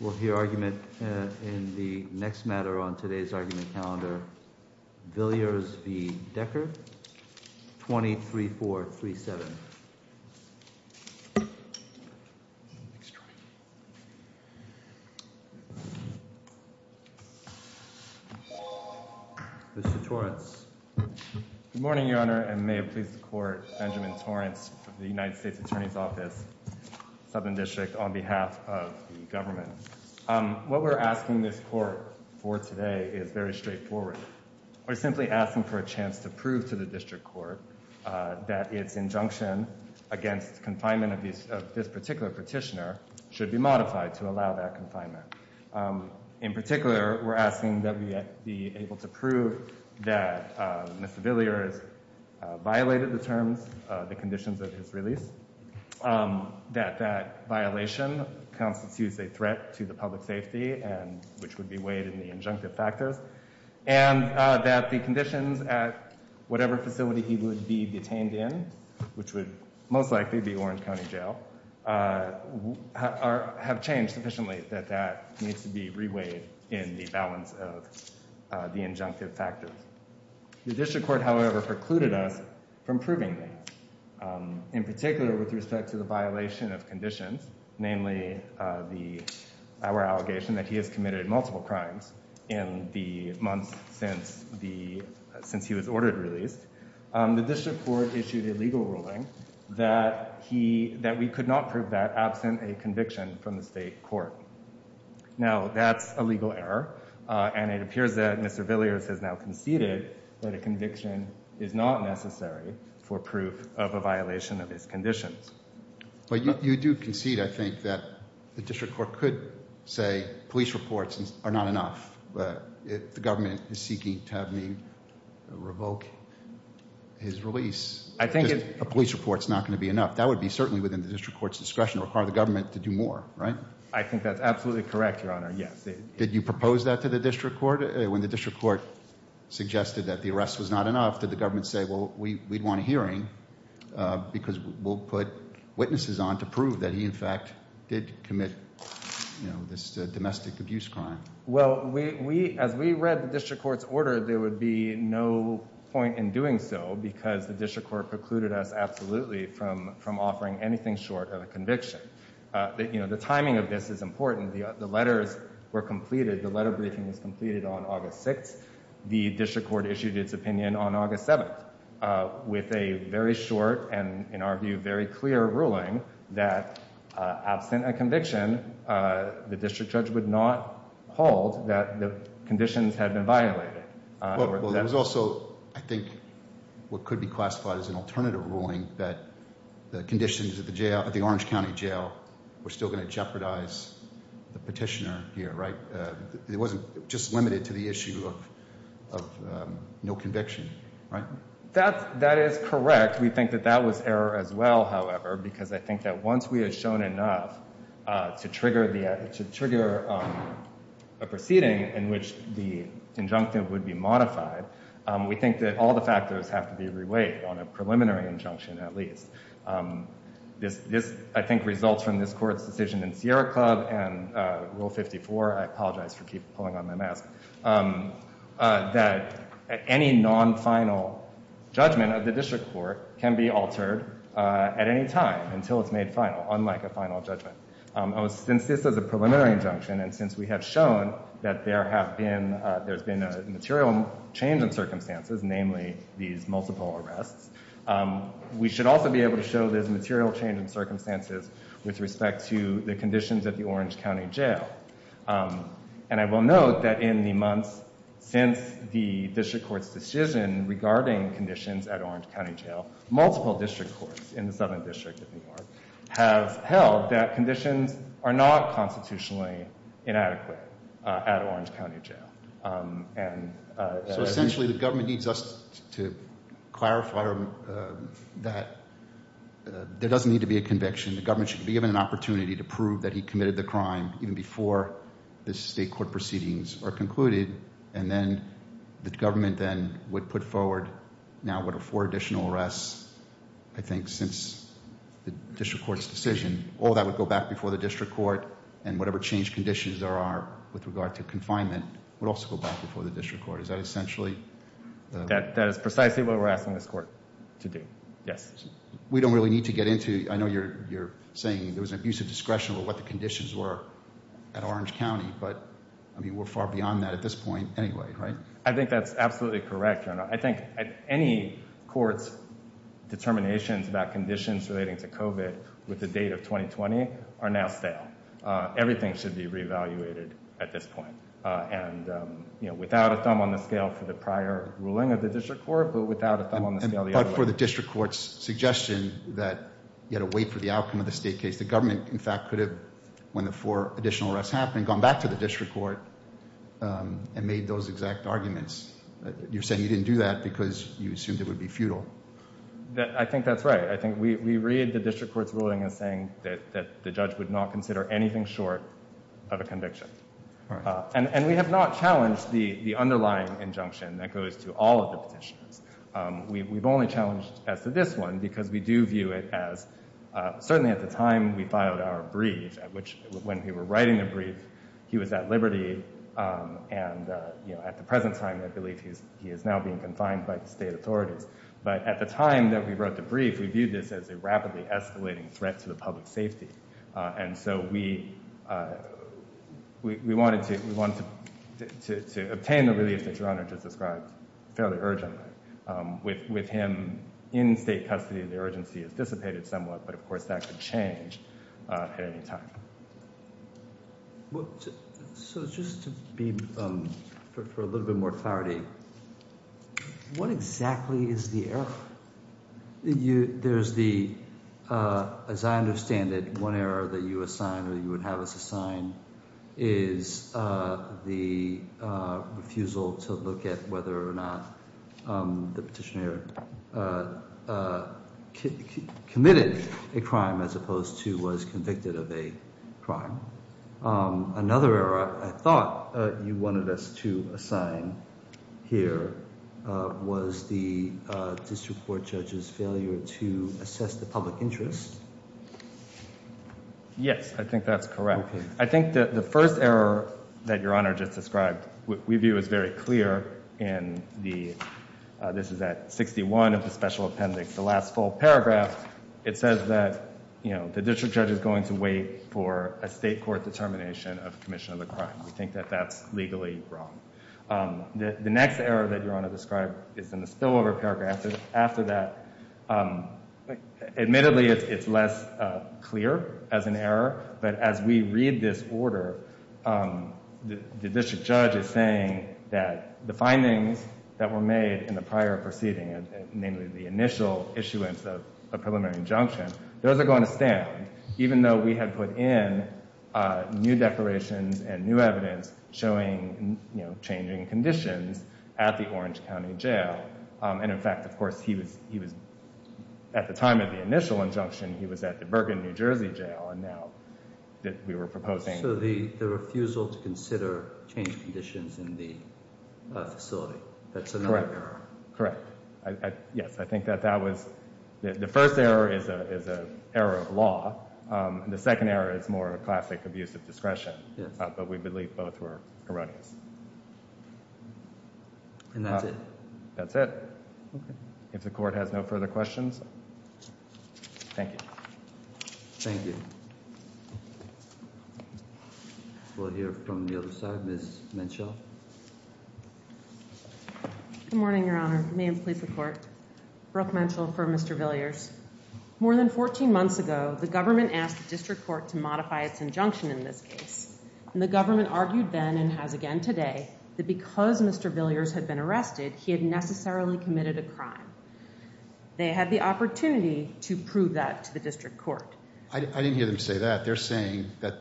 We'll hear argument in the next matter on today's argument calendar, Villiers v. Decker, 23437. Mr. Torrance. Good morning, Your Honor, and may it please the Court, Benjamin Torrance of the United States Attorney's Office, Southern District, on behalf of the government. What we're asking this Court for today is very straightforward. We're simply asking for a chance to prove to the District Court that its injunction against confinement of this particular petitioner should be modified to allow that confinement. In particular, we're asking that we be able to prove that Mr. Villiers violated the terms, the conditions of his release. That that violation constitutes a threat to the public safety and which would be weighed in the injunctive factors. And that the conditions at whatever facility he would be detained in, which would most likely be Orange County Jail, have changed sufficiently that that needs to be reweighed in the balance of the injunctive factors. The District Court, however, precluded us from proving that. In particular, with respect to the violation of conditions, namely our allegation that he has committed multiple crimes in the months since he was ordered released, the District Court issued a legal ruling that we could not prove that absent a conviction from the state court. Now, that's a legal error, and it appears that Mr. Villiers has now conceded that a conviction is not necessary for proof of a violation of his conditions. But you do concede, I think, that the District Court could say police reports are not enough, but if the government is seeking to have me revoke his release, a police report is not going to be enough. That would be certainly within the District Court's discretion to require the government to do more, right? I think that's absolutely correct, Your Honor, yes. Did you propose that to the District Court? When the District Court suggested that the arrest was not enough, did the government say, well, we'd want a hearing because we'll put witnesses on to prove that he, in fact, did commit this domestic abuse crime? Well, as we read the District Court's order, there would be no point in doing so because the District Court precluded us absolutely from offering anything short of a conviction. You know, the timing of this is important. The letters were completed. The letter briefing was completed on August 6th. The District Court issued its opinion on August 7th with a very short and, in our view, very clear ruling that absent a conviction, the District Judge would not hold that the conditions had been violated. Well, there was also, I think, what could be classified as an alternative ruling, that the conditions at the Orange County Jail were still going to jeopardize the petitioner here, right? It wasn't just limited to the issue of no conviction, right? That is correct. In fact, we think that that was error as well, however, because I think that once we have shown enough to trigger a proceeding in which the injunctive would be modified, we think that all the factors have to be reweighed on a preliminary injunction, at least. This, I think, results from this Court's decision in Sierra Club and Rule 54, I apologize for keep pulling on my mask, that any non-final judgment of the District Court can be altered at any time until it's made final, unlike a final judgment. Since this is a preliminary injunction and since we have shown that there have been, there's been a material change in circumstances, namely these multiple arrests, we should also be able to show there's a material change in circumstances with respect to the conditions at the Orange County Jail. And I will note that in the months since the District Court's decision regarding conditions at Orange County Jail, multiple District Courts in the Southern District of New York have held that conditions are not constitutionally inadequate at Orange County Jail. And- So essentially, the government needs us to clarify that there doesn't need to be a conviction. The government should be given an opportunity to prove that he committed the crime even before the state court proceedings are concluded. And then the government then would put forward, now would afford additional arrests, I think, since the District Court's decision. All that would go back before the District Court and whatever changed conditions there are with regard to confinement would also go back before the District Court. Is that essentially- That is precisely what we're asking this court to do. Yes. We don't really need to get into, I know you're saying there was an abuse of discretion with what the conditions were at Orange County, but I mean, we're far beyond that at this point anyway, right? I think that's absolutely correct, Your Honor. I think any court's determinations about conditions relating to COVID with the date of 2020 are now stale. Everything should be re-evaluated at this point. And, you know, without a thumb on the scale for the prior ruling of the District Court, but without a thumb on the scale the other way. But for the District Court's suggestion that you had to wait for the outcome of the state case, the government, in fact, could have, when the four additional arrests happened, gone back to the District Court and made those exact arguments. You're saying you didn't do that because you assumed it would be futile. I think that's right. I think we read the District Court's ruling as saying that the judge would not consider anything short of a conviction. And we have not challenged the underlying injunction that goes to all of the petitioners. We've only challenged as to this one because we do view it as, certainly at the time we filed our brief, at which, when we were writing the brief, he was at liberty. And, you know, at the present time, I believe he is now being confined by the state authorities. But at the time that we wrote the brief, we viewed this as a rapidly escalating threat to the public safety. And so we wanted to obtain the relief that Your Honor just described fairly urgently. With him in state custody, the urgency has dissipated somewhat, but, of course, that could change at any time. So just to be, for a little bit more clarity, what exactly is the error? There's the, as I understand it, one error that you assign or you would have us assign is the refusal to look at whether or not the petitioner committed a crime as opposed to was convicted of a crime. Another error I thought you wanted us to assign here was the district court judge's failure to assess the public interest. Yes, I think that's correct. I think that the first error that Your Honor just described, we view as very clear in the, this is at 61 of the special appendix, the last full paragraph, it says that, you know, the district judge is going to wait for a state court determination of commission of the crime. We think that that's legally wrong. The next error that Your Honor described is in the spillover paragraph. After that, admittedly, it's less clear as an error. But as we read this order, the district judge is saying that the findings that were made in the prior proceeding, namely the initial issuance of a preliminary injunction, those are going to stand, even though we had put in new declarations and new evidence showing, you know, changing conditions at the Orange County Jail. And in fact, of course, he was, at the time of the initial injunction, he was at the Bergen, New Jersey Jail, and now that we were proposing- So the refusal to consider change conditions in the facility. That's another error. Correct. Yes, I think that that was, the first error is an error of law. The second error is more a classic abuse of discretion. But we believe both were erroneous. And that's it. That's it. If the court has no further questions. Thank you. Thank you. We'll hear from the other side. Ms. Menchel. Good morning, Your Honor. May it please the Court. Brooke Menchel for Mr. Villiers. More than 14 months ago, the government asked the district court to modify its injunction in this case. And the government argued then, and has again today, that because Mr. Villiers had been arrested, he had necessarily committed a crime. They had the opportunity to prove that to the district court. I didn't hear them say that. They're saying that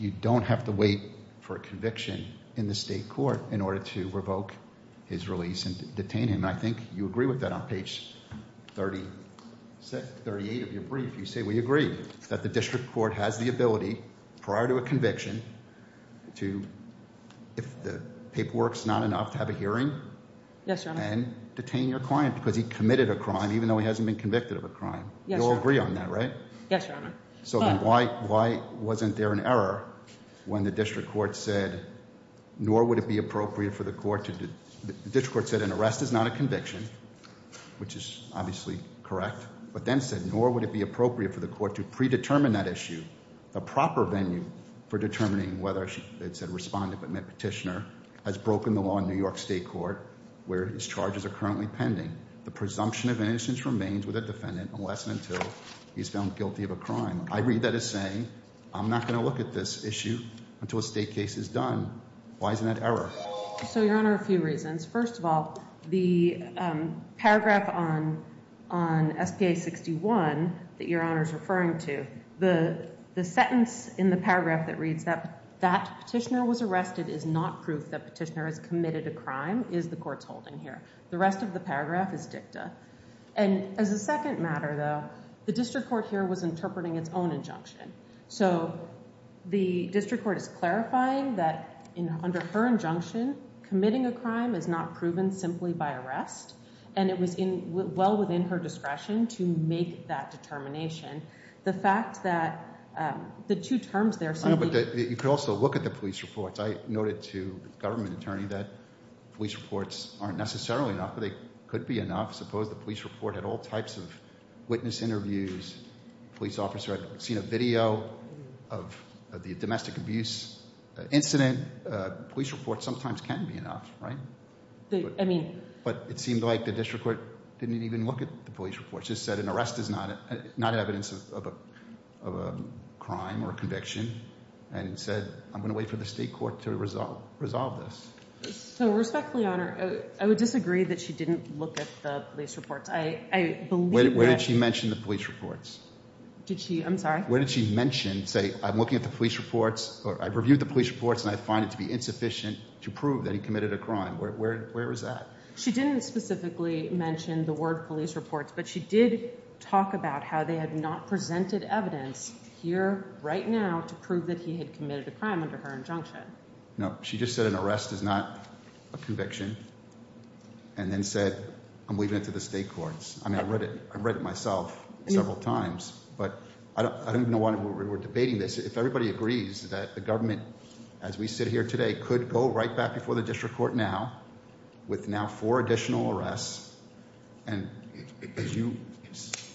you don't have to wait for a conviction in the state court in order to revoke his release and detain him. And I think you agree with that on page 36, 38 of your brief. You say, we agree that the district court has the ability, prior to a conviction, to, if the paperwork's not enough to have a hearing- Yes, Your Honor. Detain your client because he committed a crime, even though he hasn't been convicted of a crime. Yes, Your Honor. You all agree on that, right? Yes, Your Honor. So then why wasn't there an error when the district court said, nor would it be appropriate for the court to- The district court said an arrest is not a conviction, which is obviously correct. But then said, nor would it be appropriate for the court to predetermine that issue, a proper venue for determining whether it's a respondent but not petitioner, has broken the law in New York State Court, where his charges are currently pending. The presumption of innocence remains with a defendant unless and until he's found guilty of a crime. I read that as saying, I'm not going to look at this issue until a state case is done. Why isn't that error? So, Your Honor, a few reasons. First of all, the paragraph on S.P.A. 61 that Your Honor's referring to, the sentence in the paragraph that reads that that petitioner was arrested is not proof that petitioner has committed a crime, is the court's holding here. The rest of the paragraph is dicta. And as a second matter, though, the district court here was interpreting its own injunction. So the district court is clarifying that under her injunction, committing a crime is not proven simply by arrest, and it was well within her discretion to make that determination. The fact that the two terms there simply... I know, but you could also look at the police reports. I noted to the government attorney that police reports aren't necessarily enough, but they could be enough. Suppose the police report had all types of witness interviews, police officer had seen a video of the domestic abuse incident. Police reports sometimes can be enough, right? I mean... But it seemed like the district court didn't even look at the police reports. It just said an arrest is not evidence of a crime or conviction, and said, I'm going to wait for the state court to resolve this. So respectfully, Honor, I would disagree that she didn't look at the police reports. I believe that... Where did she mention the police reports? Did she? I'm sorry? Where did she mention, say, I'm looking at the police reports, or I've reviewed the police reports, and I find it to be insufficient to prove that he committed a crime? Where is that? She didn't specifically mention the word police reports, but she did talk about how they had not presented evidence here right now to prove that he had committed a crime under her injunction. No, she just said an arrest is not a conviction, and then said, I'm leaving it to the state courts. I mean, I've read it myself several times, but I don't even know why we're debating this. If everybody agrees that the government, as we sit here today, could go right back before the district court now, with now four additional arrests, and, as you,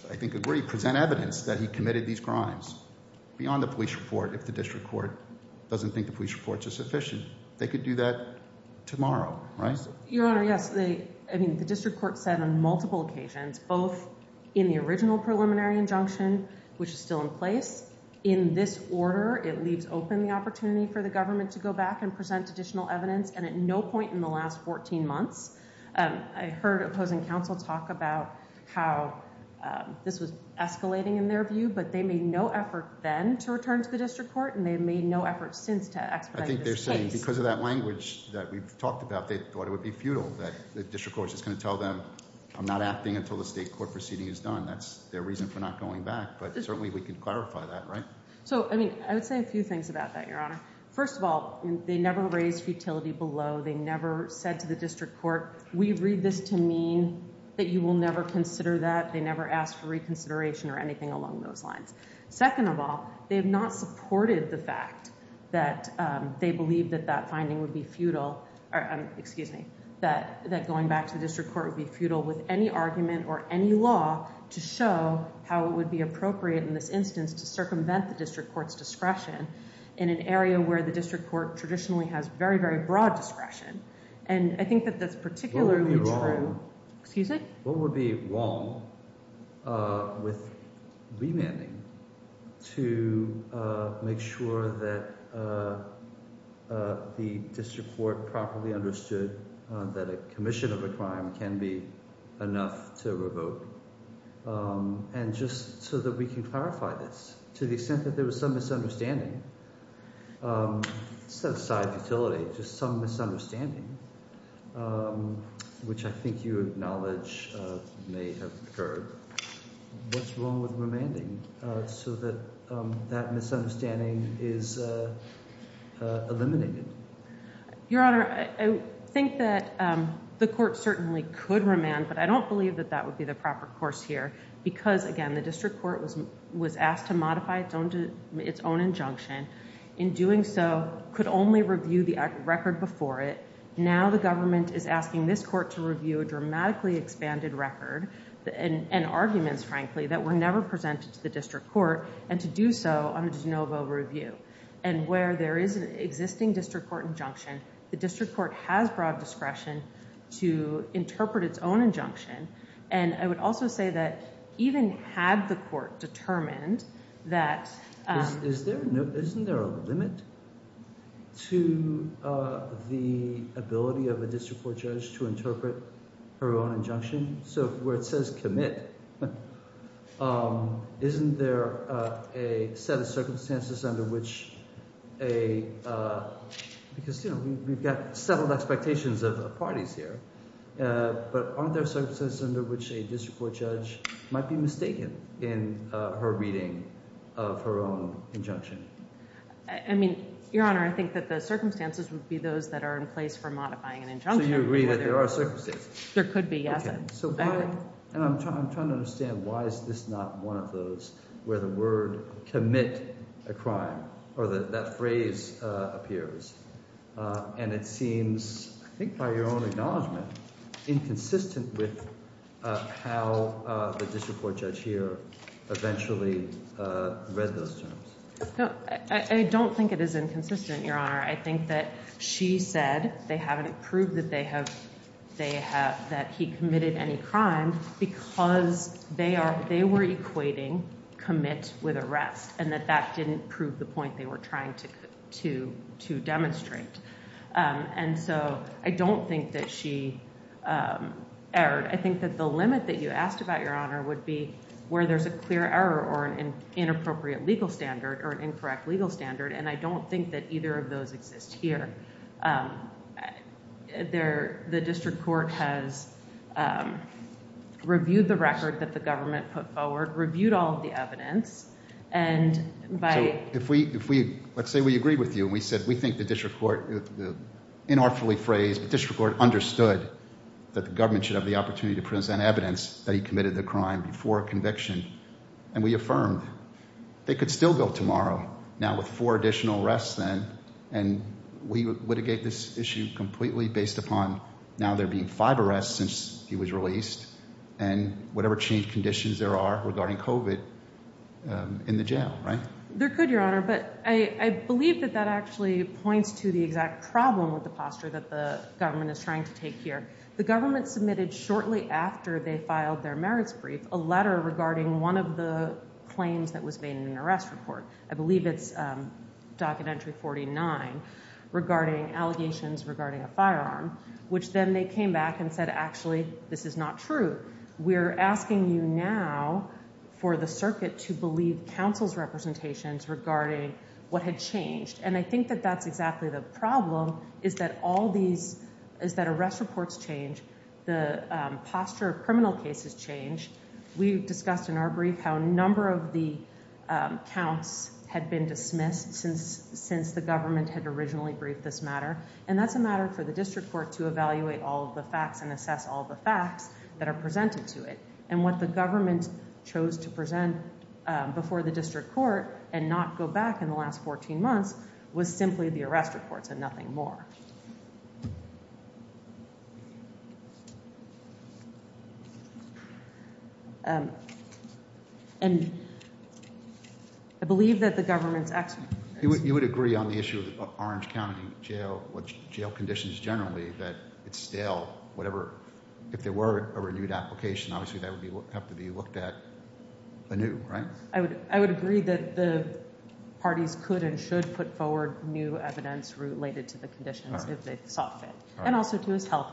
I think, agree, present evidence that he committed these crimes beyond the police report if the district court doesn't think the police reports are sufficient, they could do that tomorrow, right? Your Honor, yes. I mean, the district court said on multiple occasions, both in the original preliminary injunction, which is still in place, in this order, it leaves open the opportunity for the government to go back and present additional evidence, and at no point in the last 14 months. I heard opposing counsel talk about how this was escalating in their view, but they made no effort then to return to the district court, and they've made no effort since to expedite this case. I think they're saying because of that language that we've talked about, they thought it would be futile that the district court is going to tell them I'm not acting until the state court proceeding is done. That's their reason for not going back, but certainly we can clarify that, right? So, I mean, I would say a few things about that, Your Honor. First of all, they never raised futility below. They never said to the district court, we read this to mean that you will never consider that. They never asked for reconsideration or anything along those lines. Second of all, they have not supported the fact that they believe that that finding would be futile, excuse me, that going back to the district court would be futile with any argument or any law to show how it would be appropriate in this instance to circumvent the district court's discretion in an area where the district court traditionally has very, very broad discretion. And I think that that's particularly true... What would be wrong... Excuse me? What would be wrong with remanding to make sure that the district court properly understood that a commission of a crime can be enough to revoke? And just so that we can clarify this, to the extent that there was some misunderstanding, set aside futility, just some misunderstanding, which I think you acknowledge may have occurred, what's wrong with remanding so that that misunderstanding is eliminated? Your Honor, I think that the court certainly could remand, but I don't believe that that would be the proper course here because, again, the district court was asked to modify its own injunction. In doing so, could only review the record before it. Now the government is asking this court to review a dramatically expanded record and arguments, frankly, that were never presented to the district court and to do so on a de novo review. And where there is an existing district court injunction, the district court has broad discretion to interpret its own injunction. And I would also say that even had the court determined that... Isn't there a limit to the ability of a district court judge to interpret her own injunction? So where it says commit, isn't there a set of circumstances under which a... Because, you know, we've got settled expectations of parties here. But aren't there circumstances under which a district court judge might be mistaken in her reading of her own injunction? I mean, Your Honor, I think that the circumstances would be those that are in place for modifying an injunction. So you agree that there are circumstances? There could be, yes. So why... And I'm trying to understand why is this not one of those where the word commit a crime or that phrase appears. And it seems, I think by your own acknowledgement, inconsistent with how the district court judge here eventually read those terms. I don't think it is inconsistent, Your Honor. I think that she said they haven't proved that they have... That he committed any crime because they were equating commit with arrest and that that didn't prove the point they were trying to demonstrate. And so I don't think that she erred. I think that the limit that you asked about, Your Honor, would be where there's a clear error or an inappropriate legal standard or an incorrect legal standard. And I don't think that either of those exist here. The district court has reviewed the record that the government put forward, reviewed all of the evidence, and by... So if we... Let's say we agree with you and we said we think the district court... Inartfully phrased, the district court understood that the government should have the opportunity to present evidence that he committed the crime before conviction. And we affirmed they could still go tomorrow now with four additional arrests then and we would litigate this issue completely based upon now there being five arrests since he was released and whatever change conditions there are regarding COVID in the jail, right? There could, Your Honor, but I believe that that actually points to the exact problem with the posture that the government is trying to take here. The government submitted shortly after they filed their merits brief a letter regarding one of the claims that was made in an arrest report. I believe it's Documentary 49 regarding allegations regarding a firearm, which then they came back and said, actually, this is not true. We're asking you now for the circuit to believe counsel's representations regarding what had changed. And I think that that's exactly the problem is that all these... Is that arrest reports change. The posture of criminal cases change. We've discussed in our brief how a number of the counts had been dismissed since the government had originally briefed this matter. And that's a matter for the district court to evaluate all of the facts and assess all of the facts that are presented to it. And what the government chose to present before the district court and not go back in the last 14 months was simply the arrest reports and nothing more. And I believe that the government's... You would agree on the issue of Orange County jail conditions generally that it's still whatever... If there were a renewed application obviously that would have to be looked at anew, right? put forward new evidence related to the conditions if they saw fit. And also to his health.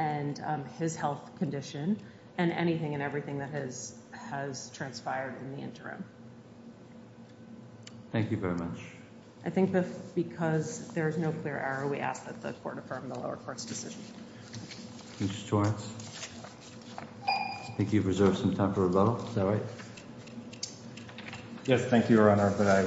And I think that that's an issue that we need to address and we need to address his health care and his health condition and anything and everything that has transpired in the interim. Thank you very much. I think that because there is no clear error we ask that the court affirm the lower court's decision. Mr. Torrance? I think you've reserved some time for rebuttal. Is that right? Yes, thank you, Your Honor. But I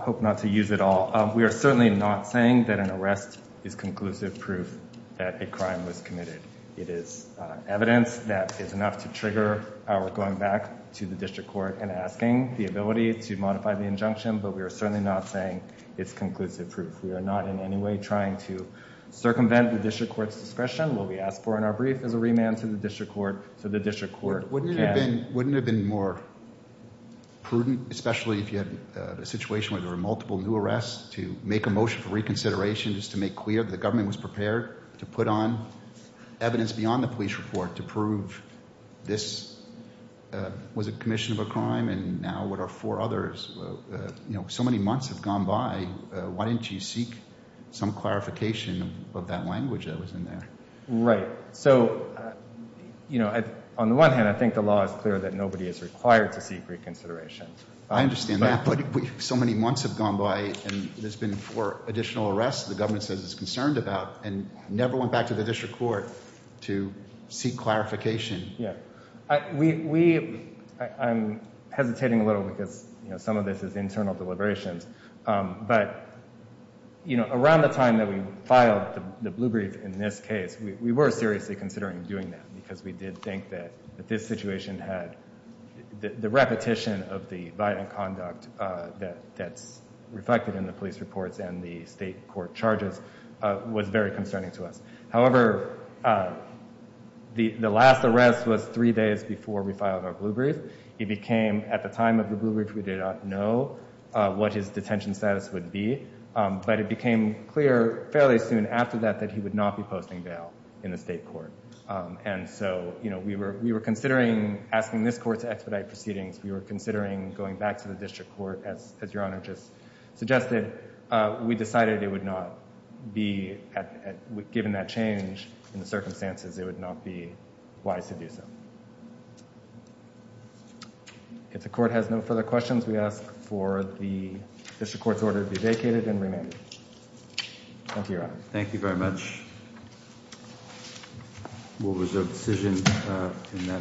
hope not to use it all. We are certainly not saying that an arrest is conclusive proof that a crime was committed. It is evidence that is enough to trigger our going back to the district court and asking the ability to modify the injunction but we are certainly not saying it's conclusive proof. We are not in any way trying to circumvent the district court's discretion. What we asked for in our reconsideration is to make clear that the government was prepared to put on evidence beyond the police report to prove this was a commission of a crime and now what are four others. So many months have gone by. Why didn't you seek some clarification of that language that was in there? Right. So, you know, on the one hand I think the law is clear that nobody is required to seek reconsideration. I understand that but so many months have gone by and there's been four additional arrests the government says it's concerned about and never went back to the district court to seek clarification. I'm hesitating a little because some of this is internal deliberations but around the time that we filed the blue brief in this case we were seriously considering doing that because we did think that this situation had the repetition of the violent conduct that's reflected in the police reports and the state court charges was very concerning to us. However, the last arrest was three days before we filed our blue brief. It became at the time of the blue brief we did not know what his detention status would be but it became clear fairly soon after that that he would not be posting bail in the state court and so we were considering asking this court to expedite proceedings we were considering going back to the district court as your honor just suggested we decided it would not be given that change in the circumstances it would not be wise to do so. If the court has no further questions we ask for the district court's order to Thank you, your honor. Thank you very much. We'll reserve decision in that matter for the next hearing. Thank you.